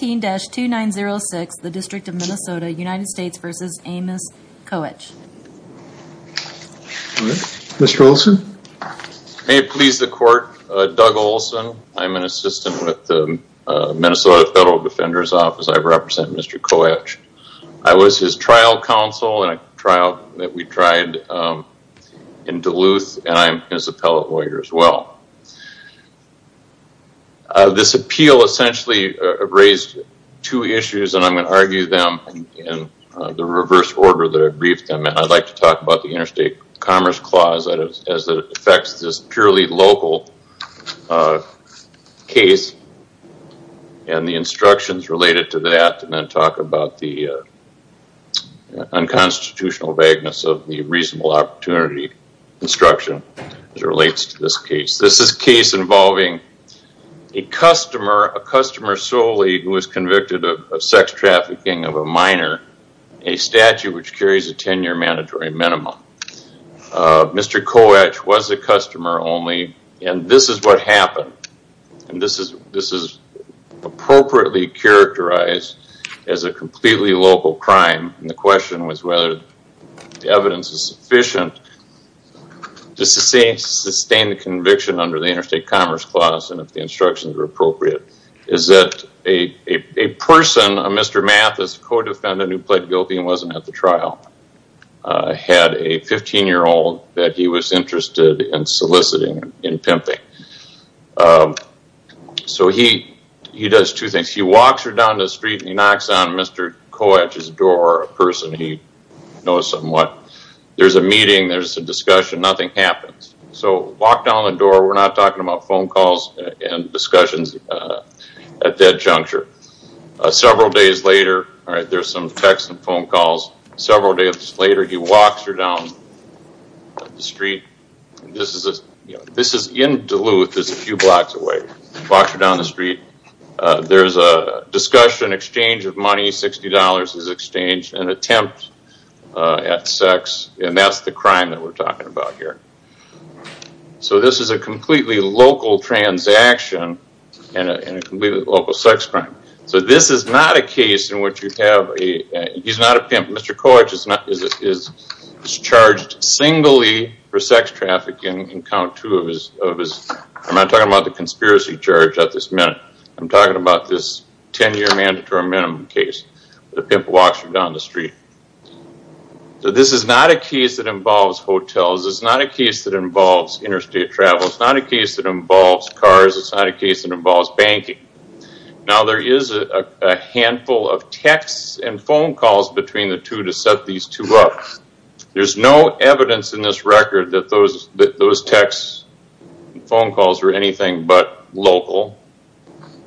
May it please the court, Doug Olson. I'm an assistant with the Minnesota Federal Defender's Office. I represent Mr. Koech. I was his trial counsel in a trial that we tried in Duluth and I'm his appellate lawyer as well. This appeal essentially raised two issues and I'm going to argue them in the reverse order that I briefed them in. I'd like to talk about the Interstate Commerce Clause as it affects this purely local case and the instructions related to that and then talk about the unconstitutional vagueness of the reasonable opportunity instruction. This is a case involving a customer, a customer solely who was convicted of sex trafficking of a minor, a statute which carries a 10 year mandatory minimum. Mr. Koech was a customer only and this is what happened. This is appropriately characterized as a completely local crime and the question was whether the evidence is sufficient to sustain the conviction under the Interstate Commerce Clause and if the instructions were appropriate. A person, a Mr. Mathis, a co-defendant who pled guilty and wasn't at the trial, had a 15 year old that he was interested in soliciting and pimping. He does two things. He walks her down the door, a person he knows somewhat. There's a meeting. There's a discussion. Nothing happens. So walk down the door. We're not talking about phone calls and discussions at that juncture. Several days later, there's some texts and phone calls. Several days later, he walks her down the street. This is in Duluth. It's a few blocks away. He walks her down the street. There's a discussion, exchange of money, $60 is exchanged, an attempt at sex and that's the crime that we're talking about here. So this is a completely local transaction and a completely local sex crime. So this is not a case in which you have a, he's not a pimp. Mr. Koech is charged singly for sex trafficking in count two of his, I'm not talking about the conspiracy charge at this minute. I'm talking about this 10 year mandatory minimum case. The pimp walks her down the street. This is not a case that involves hotels. It's not a case that involves interstate travel. It's not a case that involves cars. It's not a case that involves banking. Now there is a handful of texts and phone calls between the two to set these two up. There's no evidence in this record that those texts and phone calls are anything but local.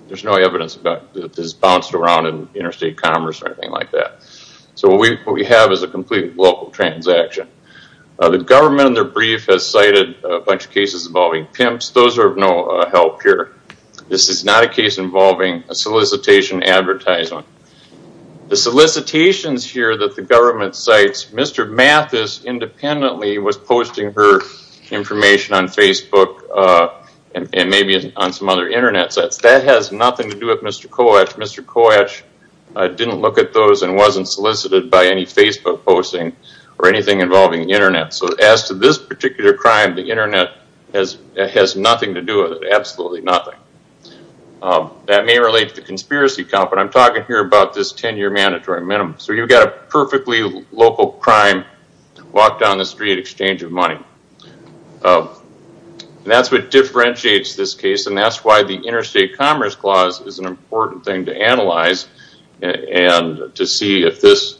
There's no evidence that this has bounced around in interstate commerce or anything like that. So what we have is a complete local transaction. The government in their brief has cited a bunch of cases involving pimps. Those are of no help here. This is not a case involving a solicitation advertisement. The solicitations here that the government cites, Mr. Mathis independently was posting her information on Facebook and maybe on some other Internet sites. That has nothing to do with Mr. Koech. Mr. Koech didn't look at those and wasn't solicited by any Facebook posting or anything involving the Internet. So as to this particular crime, the Internet has nothing to do with it. Absolutely nothing. That may relate to the conspiracy count, but I'm talking here about this 10 year mandatory minimum. So you've got a perfectly local crime, walk down the street. That's what differentiates this case and that's why the interstate commerce clause is an important thing to analyze and to see if this,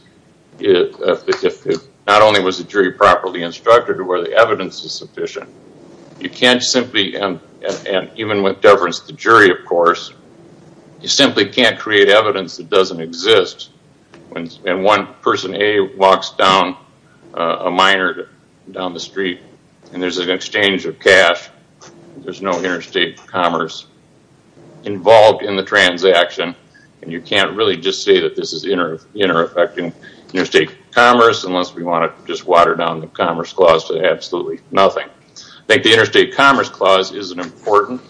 if not only was the jury properly instructed where the evidence is sufficient, you can't simply, and even with deference to the jury of course, you simply can't create evidence that doesn't exist. And one person A walks down a minor down the street and there's an exchange of cash. There's no interstate commerce involved in the transaction and you can't really just say that this is inter-affecting interstate commerce unless we want to just water down the commerce clause to absolutely nothing. I think the interstate commerce clause is an important,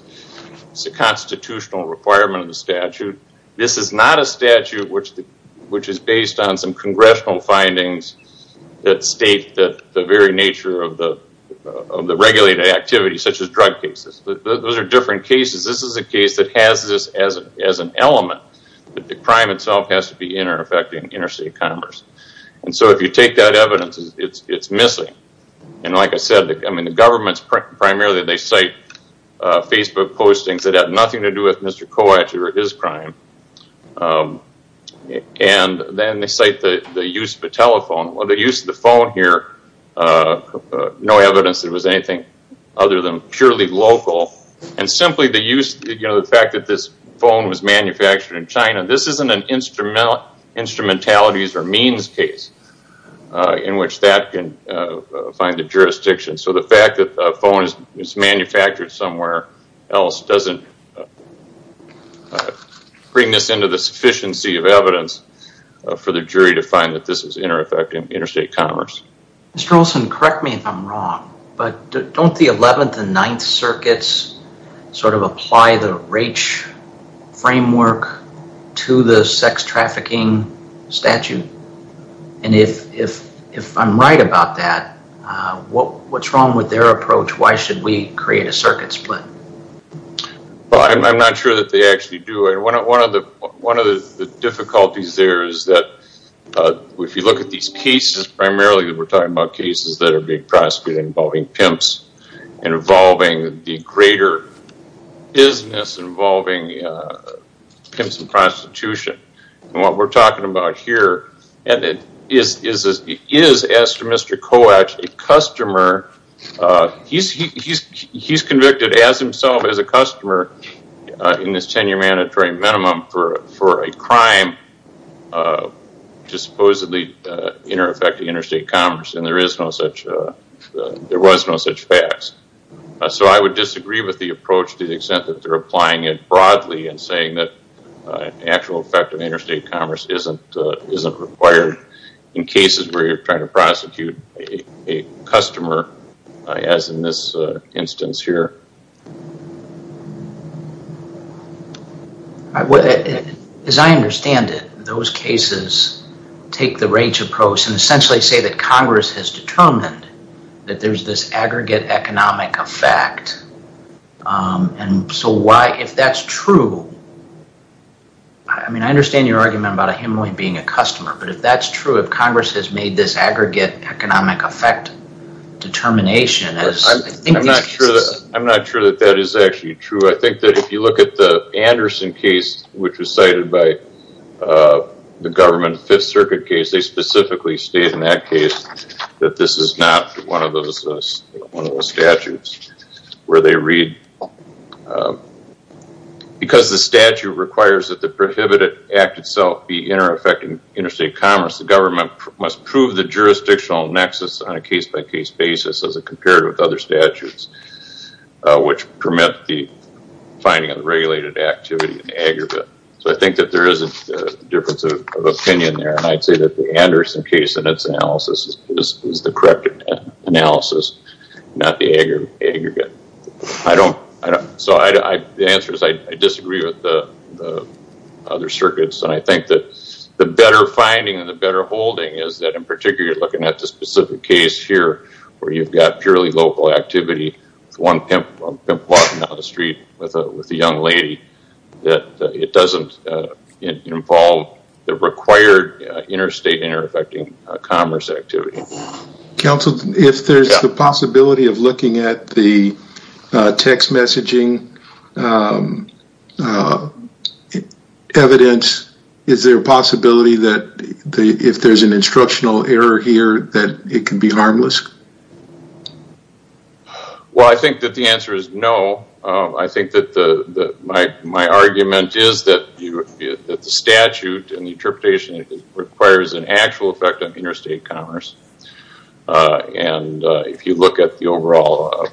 it's a constitutional requirement of the statute. This is not a statute which is based on some congressional findings that state that the very nature of the regulated activity such as drug cases. Those are different cases. This is a case that has this as an element. The crime itself has to be inter-affecting interstate commerce. And so if you take that evidence, it's missing. And like I said, I mean the government's primarily, they cite Facebook postings that have nothing to do with Mr. Kowalczyk or his crime. And then they cite the use of a telephone. Well the use of the phone here, no evidence that it was anything other than purely local and simply the use, you know, the fact that this phone was manufactured in China. This isn't an instrumentalities or means case in which that can find a jurisdiction. So the fact that a phone is manufactured somewhere else doesn't bring this into the sufficiency of evidence for the jury to find that this is inter-affecting interstate commerce. Mr. Olson, correct me if I'm wrong, but don't the 11th and 9th circuits sort of apply the RACHE framework to the sex trafficking statute? And if I'm right about that, what's wrong with their approach? Why should we create a circuit split? Well, I'm not sure that they actually do. One of the difficulties there is that if you look at these cases, primarily we're talking about cases that are being prosecuted involving pimps and involving the greater business involving pimps and prostitution. And what we're talking about here is, as to Mr. Koech, a customer, he's convicted as himself as a customer in this 10-year mandatory minimum for a crime to supposedly inter-affect interstate commerce and there is no such, there was no such facts. So I would disagree with the approach to the extent that they're applying it broadly and saying that actual effect of interstate commerce isn't required in cases where you're trying to prosecute a customer as in this instance here. As I understand it, those cases take the RACHE approach and essentially say that Congress has determined that there's this aggregate economic effect. And so why, if that's true, I mean, I understand your argument about a hemorrhoid being a customer, but if that's true, if Congress has made this aggregate economic effect determination as... I'm not sure that that is actually true. I think that if you look at the Anderson case, which was cited by the government Fifth Circuit case, they specifically state in that case that this is not one of those statutes where they read, because the statute requires that the prohibited act itself be inter-affecting interstate commerce, the government must prove the jurisdictional nexus on a case-by-case basis as it compared with other statutes, which permit the finding of regulated activity in the aggregate. So I think that there is a difference of opinion there and I'd say that the Anderson case in its analysis is the correct analysis, not the aggregate. So the answer is I disagree with the other circuits and I think that the better finding and the better holding is that in particular, you're looking at the specific case here where you've got purely local activity with one pimp walking down the street with a young lady, that it doesn't involve the required interstate inter-affecting commerce activity. Counsel, if there's the possibility of looking at the text messaging evidence, is there a possibility that if there's an instructional error here that it can be harmless? Well, I think that the answer is no. I think that my argument is that the statute and the interstate commerce and if you look at the overall,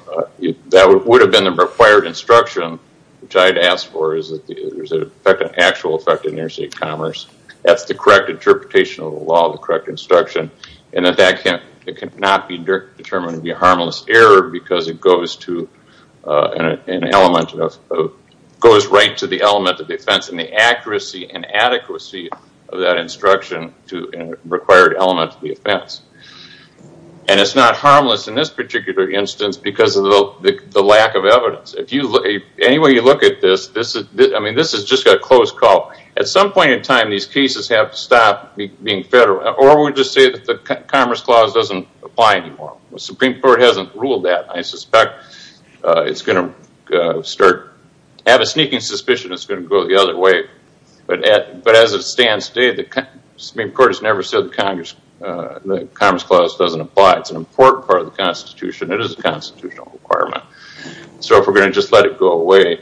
that would have been the required instruction, which I had asked for, is that there's an actual effect in interstate commerce. That's the correct interpretation of the law, the correct instruction, and that that cannot be determined to be a harmless error because it goes right to the element of defense and the defense. And it's not harmless in this particular instance because of the lack of evidence. If you look, any way you look at this, this is just a close call. At some point in time, these cases have to stop being federal or we'll just say that the Commerce Clause doesn't apply anymore. The Supreme Court hasn't ruled that. I suspect it's going to start, I have a sneaking suspicion it's going to go the other way. But as it stands today, the Supreme Court, the Commerce Clause doesn't apply. It's an important part of the Constitution. It is a constitutional requirement. So if we're going to just let it go away,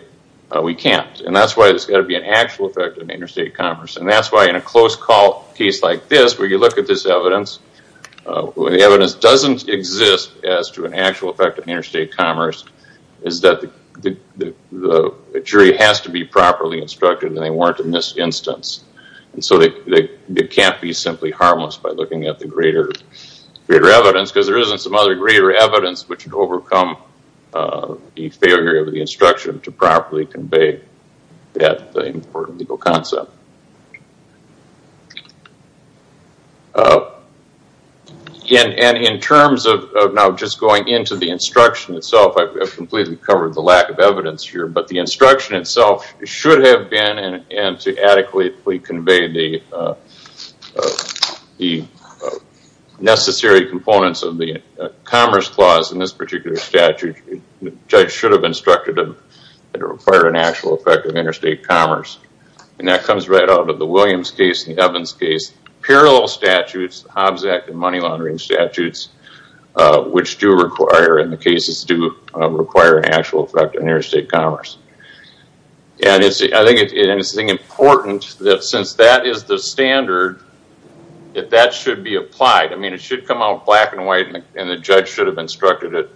we can't. And that's why there's got to be an actual effect in interstate commerce. And that's why in a close call case like this, where you look at this evidence, the evidence doesn't exist as to an actual effect in interstate commerce, is that the jury has to be properly instructed that they weren't in this instance. And so they can't be simply harmless by looking at the greater evidence, because there isn't some other greater evidence which would overcome the failure of the instruction to properly convey that important legal concept. In terms of now just going into the instruction itself, I've completely covered the lack of necessary components of the Commerce Clause in this particular statute. The judge should have instructed them that it required an actual effect in interstate commerce. And that comes right out of the Williams case and the Evans case. Parallel statutes, the Hobbs Act and money laundering statutes, which do require, in the cases do require an actual effect in interstate commerce. And I think it's important that since that is the standard, that that should be applied. I mean, it should come out black and white and the judge should have instructed it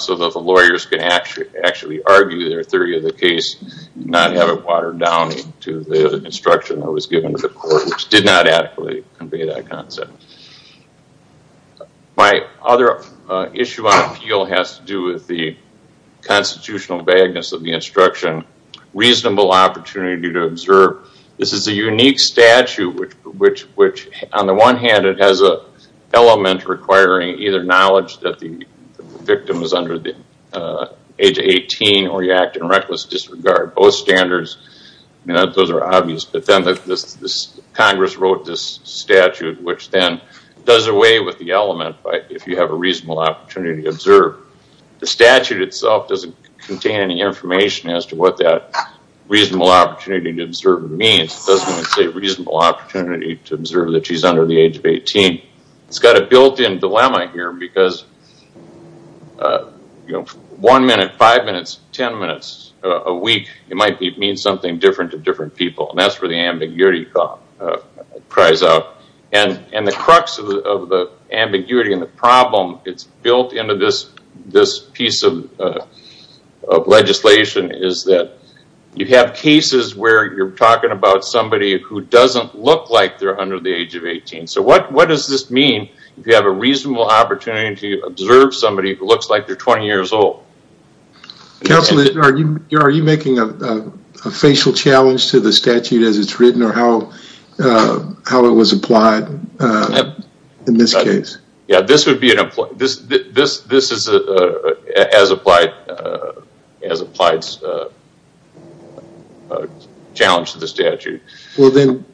so that the lawyers can actually argue their theory of the case, not have it watered down to the instruction that was given to the court, which did not adequately convey that concept. My other issue on appeal has to do with the constitutional vagueness of the instruction. Reasonable opportunity to observe. This is a unique statute, which on the one hand, it has an element requiring either knowledge that the victim is under the age of 18 or you act in reckless disregard. Both standards, those are obvious, but then Congress wrote this statute, which then does away with the element if you have a reasonable opportunity to observe. The statute itself doesn't contain information as to what that reasonable opportunity to observe means. It doesn't say reasonable opportunity to observe that she's under the age of 18. It's got a built-in dilemma here, because one minute, five minutes, ten minutes a week, it might mean something different to different people. And that's where the ambiguity cries out. And the crux of the ambiguity and the problem, it's built into this piece of legislation is that you have cases where you're talking about somebody who doesn't look like they're under the age of 18. What does this mean if you have a reasonable opportunity to observe somebody who looks like they're 20 years old? Counselor, are you making a facial challenge to the statute as it's written or how it was applied in this case? Yeah, this would be as applied as a challenge to the statute. Well, then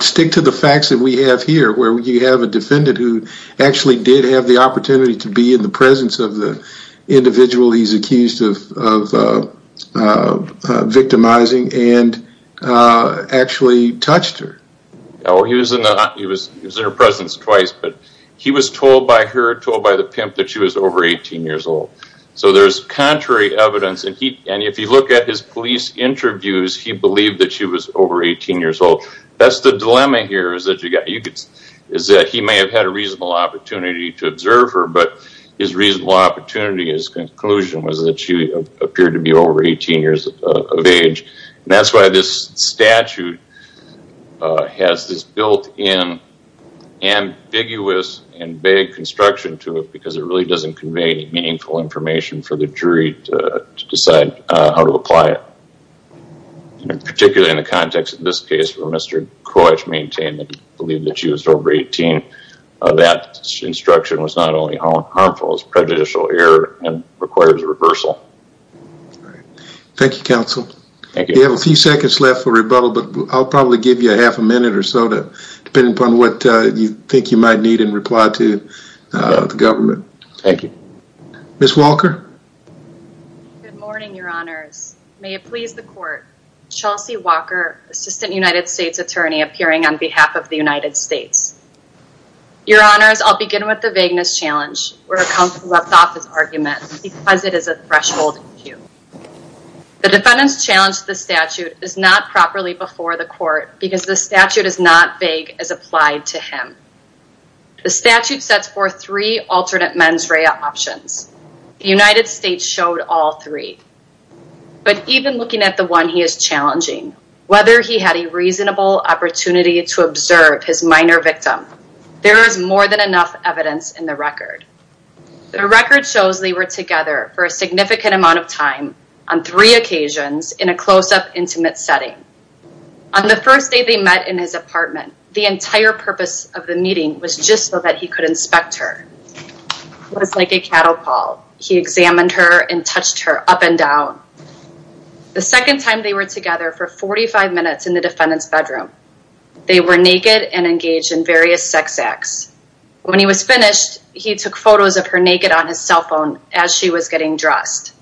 stick to the facts that we have here, where you have a defendant who actually did have the opportunity to be in the presence of the individual he's accused of victimizing and actually touched her. He was in her presence twice, but he was told by her, told by the pimp that she was over 18 years old. So there's contrary evidence, and if you look at his police interviews, he believed that she was over 18 years old. That's the dilemma here is that he may have had a reasonable opportunity to observe her, but his reasonable opportunity, his conclusion was that she appeared to be over 18 years of age. That's why this statute has this built in ambiguous and vague construction to it, because it really doesn't convey any meaningful information for the jury to decide how to apply it. Particularly in the context of this case where Mr. Koich maintained that he believed that she was over 18, that instruction was not only harmful, it was prejudicial error and requires a reversal. Thank you, counsel. We have a few seconds left for rebuttal, but I'll probably give you a half a minute or so, depending upon what you think you might need in reply to the government. Thank you. Ms. Walker? Good morning, your honors. May it please the court, Chelsea Walker, Assistant United States Attorney appearing on behalf of the United States. Your honors, I'll begin with the vagueness challenge where a counsel left off his argument because it is a threshold issue. The defendant's challenge to the statute is not properly before the court because the statute is not vague as applied to him. The statute sets forth three alternate mens rea options. The United States showed all three, but even looking at the one he is challenging, whether he had a reasonable opportunity to observe his minor victim, there is more than enough evidence in the record. The record shows they were together for a significant amount of time on three occasions in a closeup intimate setting. On the first day they met in his apartment, the entire purpose of the meeting was just so that he could inspect her. It was like a catapult. He examined her and touched her up and down. The second time they were together for 45 minutes in the defendant's bedroom, they were naked and engaged in various sex activities. When he was finished, he took photos of her naked on his cell phone as she was getting dressed.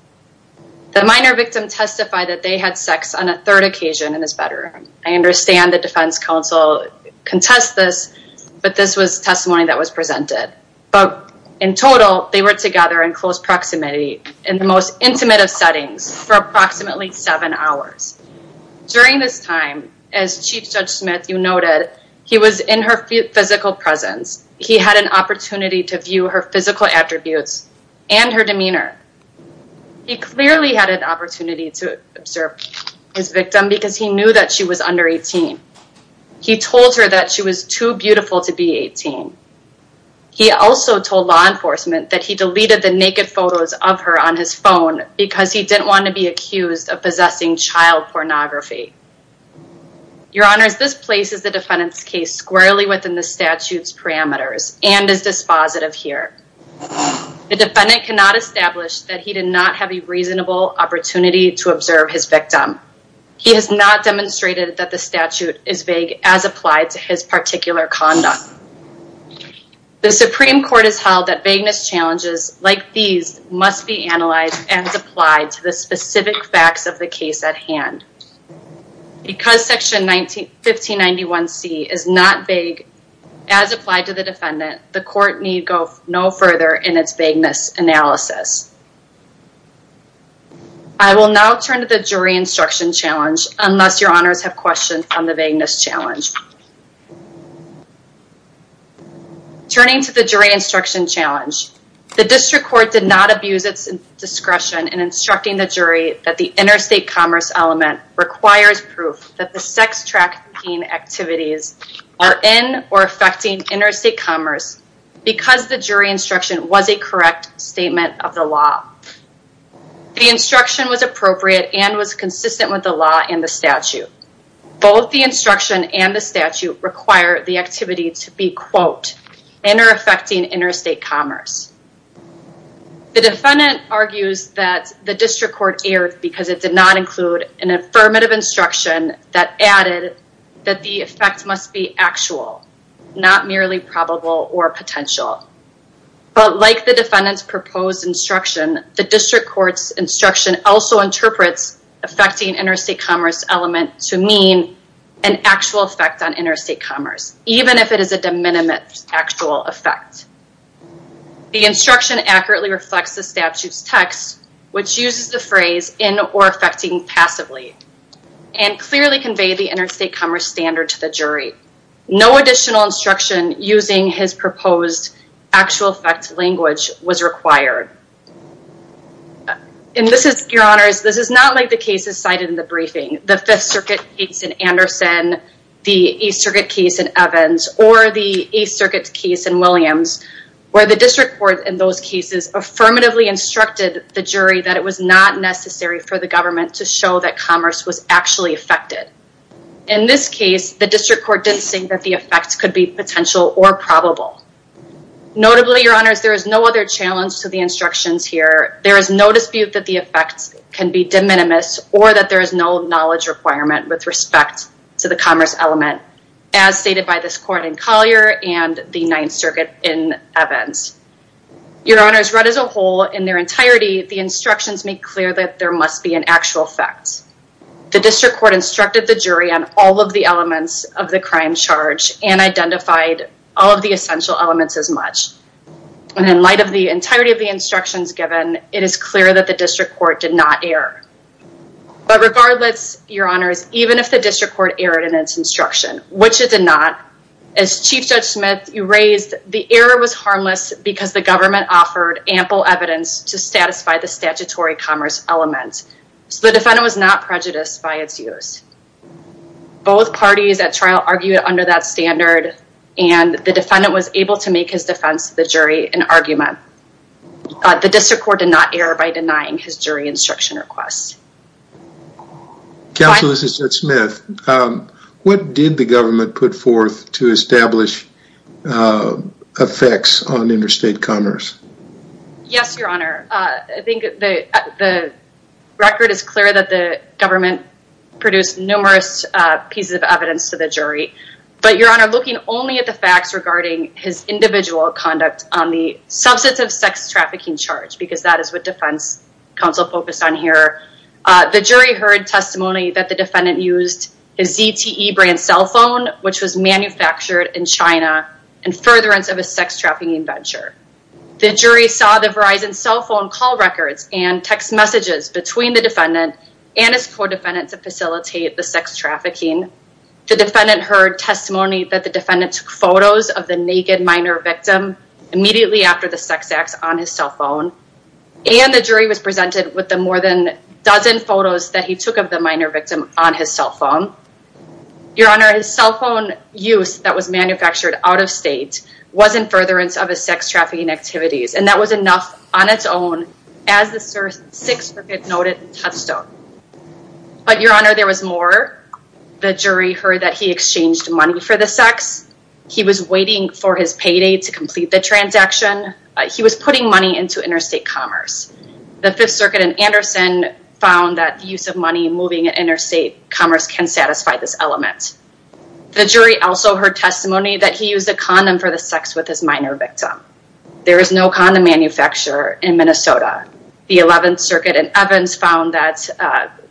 The minor victim testified that they had sex on a third occasion in his bedroom. I understand the defense counsel contest this, but this was testimony that was presented. But in total, they were together in close proximity in the most intimate of settings for approximately seven hours. During this time, as Chief Judge Smith, you noted, he was in her physical presence. He had an opportunity to view her physical attributes and her demeanor. He clearly had an opportunity to observe his victim because he knew that she was under 18. He told her that she was too beautiful to be 18. He also told law enforcement that he deleted the naked photos of her on his phone because he didn't want to be accused of possessing child pornography. Your Honors, this places the defendant's case squarely within the statute's parameters and is dispositive here. The defendant cannot establish that he did not have a reasonable opportunity to observe his victim. He has not demonstrated that the statute is vague as applied to his particular conduct. The Supreme Court has the facts of the case at hand. Because section 1591C is not vague as applied to the defendant, the court need go no further in its vagueness analysis. I will now turn to the jury instruction challenge unless your Honors have questions on the vagueness challenge. Turning to the jury instruction challenge, the district court did not abuse its discretion in instructing the jury that the interstate commerce element requires proof that the sex trafficking activities are in or affecting interstate commerce because the jury instruction was a correct statement of the law. The instruction was appropriate and was consistent with the law and the statute. Both the instruction and the statute require the activity to be, quote, in or affecting interstate commerce. The defendant argues that the district court erred because it did not include an affirmative instruction that added that the effect must be actual, not merely probable or potential. But like the defendant's proposed instruction, the district court's instruction also interprets affecting interstate commerce element to mean an actual effect on interstate commerce, even if it is a de minimis actual effect. The instruction accurately reflects the statute's text, which uses the phrase in or affecting passively, and clearly conveyed the interstate commerce standard to the jury. No additional instruction using his proposed actual effect language was required. And this is, your Honors, this is not like the cases cited in the briefing, the Fifth Circuit case in Anderson, the East Circuit case in Evans, or the East Circuit case in Williams, where the district court in those cases affirmatively instructed the jury that it was not necessary for the government to show that commerce was actually affected. In this case, the district court didn't think that the effects could be potential or probable. Notably, your Honors, there is no other challenge to the instructions here. There is no dispute that the effects can be de minimis or that there is no knowledge requirement with respect to the commerce element as stated by this court in Collier and the Ninth Circuit in Evans. Your Honors, read as a whole, in their entirety, the instructions make clear that there must be an actual effect. The district court instructed the jury on all of the elements of the crime charge and identified all of the essential elements as much. And in light of the entirety of the instructions given, it is clear that the district court did not err. But regardless, your Honors, even if the district court erred in its instruction, which it did not, as Chief Judge Smith raised, the error was harmless because the government offered ample evidence to satisfy the statutory commerce element. So the defendant was not prejudiced by its use. Both parties at trial argued under that standard and the defendant was able to make his defense to the jury an argument. The district court did not err by denying his jury instruction requests. Counsel, this is Judge Smith. What did the government put forth to establish effects on interstate commerce? Yes, your Honor. I think the record is clear that the government produced numerous pieces of evidence to the jury. But your Honor, looking only at the facts regarding his individual conduct on the substantive sex trafficking charge, because that is what defense counsel focused on here, the jury heard testimony that the defendant used his ZTE brand cell phone, which was manufactured in China, in furtherance of a sex trafficking venture. The jury saw the Verizon cell phone call records and text messages between the defendant and his co-defendant to facilitate the sex trafficking. The defendant heard testimony that the defendant took photos of the naked minor victim immediately after the sex acts on his cell phone. And the jury was presented with the more than dozen photos that he took of the minor victim on his cell phone. Your Honor, his cell phone use that was manufactured out of state was in furtherance of his sex trafficking activities. And that was enough on its own as the Sixth Circuit noted and touched on. But your Honor, there was more. The jury heard that he exchanged money for the sex. He was waiting for his payday to complete the transaction. He was putting money into interstate commerce. The Fifth Circuit and Anderson found that use of money moving interstate commerce can satisfy this element. The jury also heard testimony that he used a condom for the sex with his minor victim. There is no condom manufacturer in Minnesota. The Eleventh Circuit and Evans found that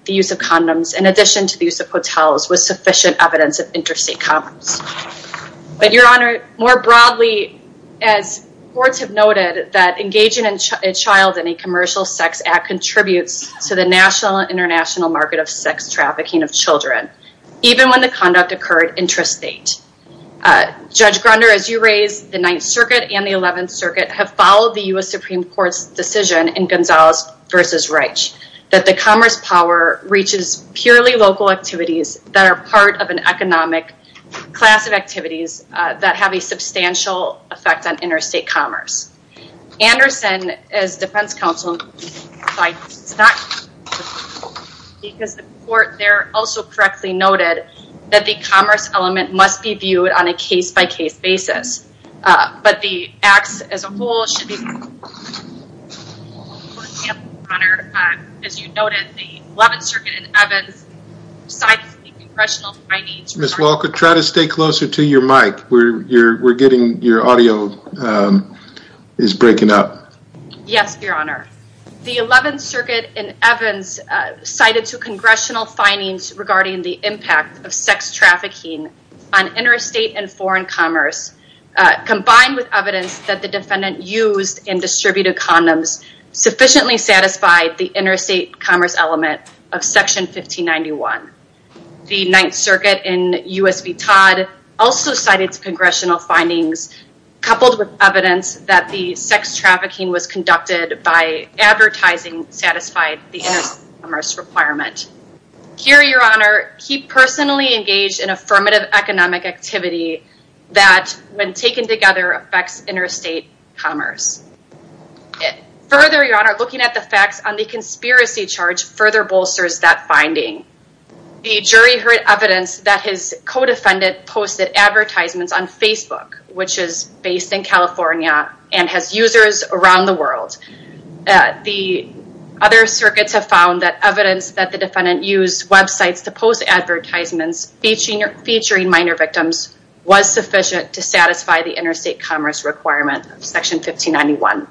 the use of condoms, in addition to the use of hotels, was sufficient evidence of interstate commerce. But your Honor, more broadly, as courts have noted, that engaging a child in a commercial sex act contributes to the national and international market of sex trafficking of children, even when the conduct occurred intrastate. Judge Grunder, as you raise the Ninth Circuit and the Eleventh Circuit, have followed the U.S. Supreme Court's decision in Gonzalez v. Reich that the commerce power reaches purely local activities that are part of an economic class of activities that have a substantial effect on interstate commerce. Anderson, as defense counsel, because the court there also correctly noted that the commerce element must be viewed on a case-by-case basis. But the acts as a whole should be... For example, Your Honor, as you noted, the Eleventh Circuit and Evans cited the congressional findings... Ms. Walker, try to stay closer to your mic. We're getting your audio is breaking up. Yes, Your Honor. The Eleventh Circuit and Evans cited two congressional findings regarding the impact of sex trafficking on interstate and foreign commerce combined with evidence that the defendant used and distributed condoms sufficiently satisfied the interstate commerce element of Section 1591. The Ninth Circuit and U.S. v. Todd also cited congressional findings coupled with evidence that the sex trafficking was conducted by advertising satisfied the interstate commerce requirement. Here, Your Honor, he personally engaged in affirmative economic activity that, when taken together, affects interstate commerce. Further, Your Honor, looking at the facts on the conspiracy charge further bolsters that finding. The jury heard evidence that his co-defendant posted advertisements on The other circuits have found that evidence that the defendant used websites to post advertisements featuring minor victims was sufficient to satisfy the interstate commerce requirement of Section 1591.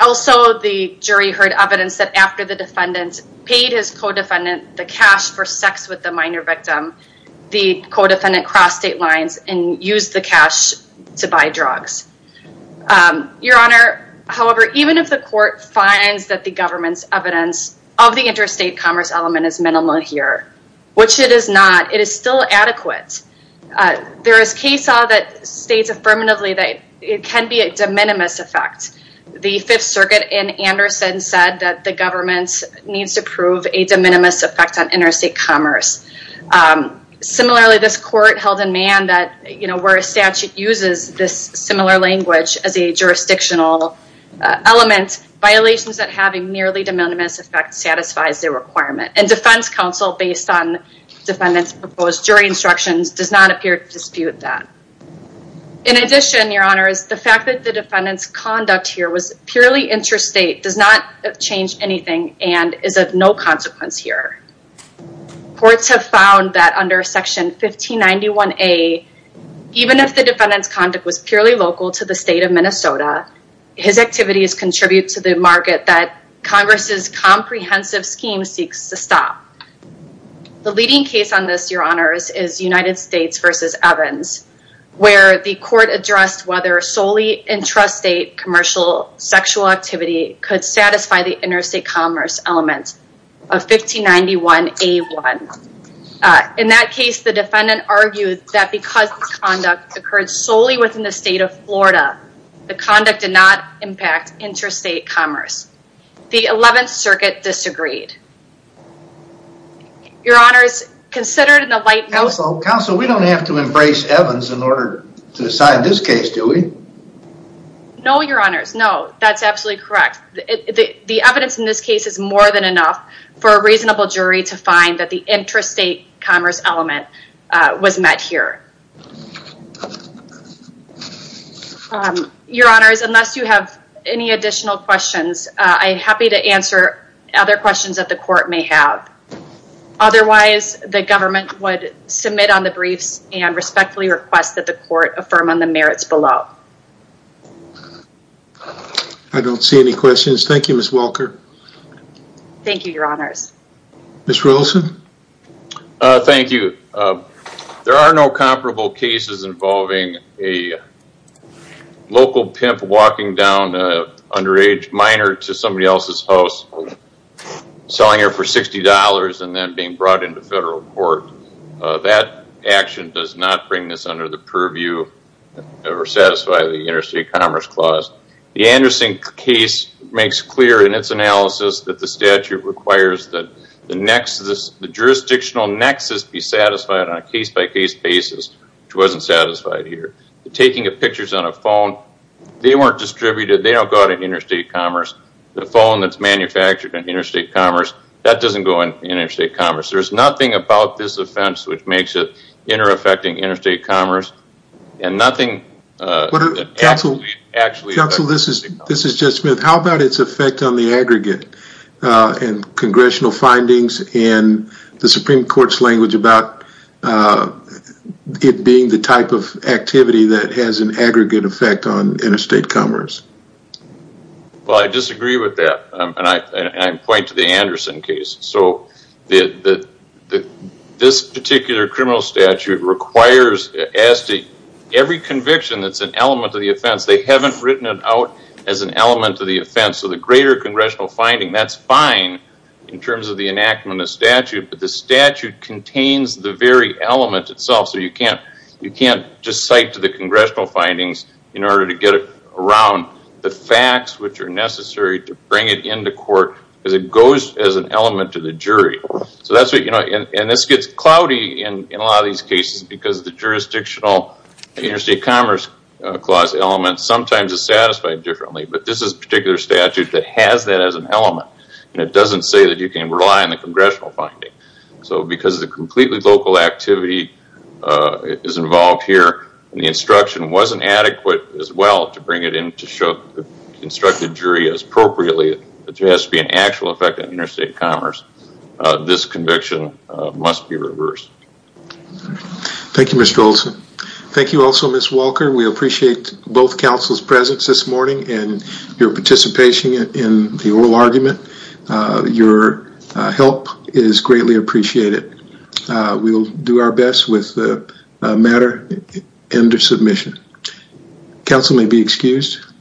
Also, the jury heard evidence that, after the defendant paid his co-defendant the cash for sex with the minor victim, the co-defendant crossed state lines and used the cash to buy drugs. Your Honor, however, even if the court finds that the government's evidence of the interstate commerce element is minimal here, which it is not, it is still adequate. There is case law that states affirmatively that it can be a de minimis effect. The Fifth Circuit in Anderson said that the government needs to prove a de minimis effect on interstate commerce. While the statute uses this similar language as a jurisdictional element, violations that have a nearly de minimis effect satisfies the requirement, and defense counsel, based on defendant's proposed jury instructions, does not appear to dispute that. In addition, Your Honor, the fact that the defendant's conduct here was purely interstate does not change anything and is of no consequence here. Courts have found that under Section 1591A, even if the defendant's conduct was purely local to the state of Minnesota, his activities contribute to the market that Congress's comprehensive scheme seeks to stop. The leading case on this, Your Honors, is United States v. Evans, where the court addressed whether solely intrastate commercial sexual activity could satisfy the interstate commerce element of 1591A1. In that case, the defendant argued that because the conduct occurred solely within the state of Florida, the conduct did not impact interstate commerce. The Eleventh Circuit disagreed. Your Honors, considered in the light... Counsel, Counsel, we don't have to embrace Evans in order to decide this case, do we? No, Your Honors, no. That's absolutely correct. The evidence in this case is more than enough for a reasonable jury to find that the intrastate commerce element was met here. Your Honors, unless you have any additional questions, I'm happy to answer other questions that the court may have. Otherwise, the government would submit on the briefs and respectfully request that the court affirm on the merits below. I don't see any questions. Thank you, Ms. Welker. Thank you, Your Honors. Ms. Rilson? Thank you. There are no comparable cases involving a local pimp walking down an underage minor to somebody else's house, selling her for $60 and then being brought into federal court. That action does not bring this under the purview or satisfy the interstate commerce clause. The Anderson case makes clear in its analysis that the statute requires that the jurisdictional nexus be satisfied on a case-by-case basis, which wasn't satisfied here. Taking pictures on a phone, they weren't distributed. They don't go out in interstate commerce. The phone that's manufactured in interstate commerce, that doesn't go in interstate commerce. There's nothing about this offense which makes it inter-affecting interstate commerce and nothing actually affects interstate commerce. Counsel, this is Judge Smith. How about its congressional findings in the Supreme Court's language about it being the type of activity that has an aggregate effect on interstate commerce? I disagree with that. I point to the Anderson case. This particular criminal statute requires as to every conviction that's an element of the offense, they haven't written it out as an element of the offense. The greater congressional finding, that's fine in terms of the enactment of the statute, but the statute contains the very element itself. You can't just cite to the congressional findings in order to get around the facts which are necessary to bring it into court because it goes as an element to the jury. This gets cloudy in a lot of these cases because the jurisdictional interstate commerce clause element sometimes is satisfied differently. This is a particular statute that has that as an element and it doesn't say that you can rely on the congressional finding. Because the completely local activity is involved here and the instruction wasn't adequate as well to bring it in to show the instructed jury as appropriately, it has to be an actual effect on interstate commerce, this conviction must be reversed. Thank you, Mr. Olson. Thank you also, Ms. Walker. We appreciate both counsel's presence this morning and your participation in the oral argument. Your help is greatly appreciated. We will do our best with the matter under submission. Counsel may be excused.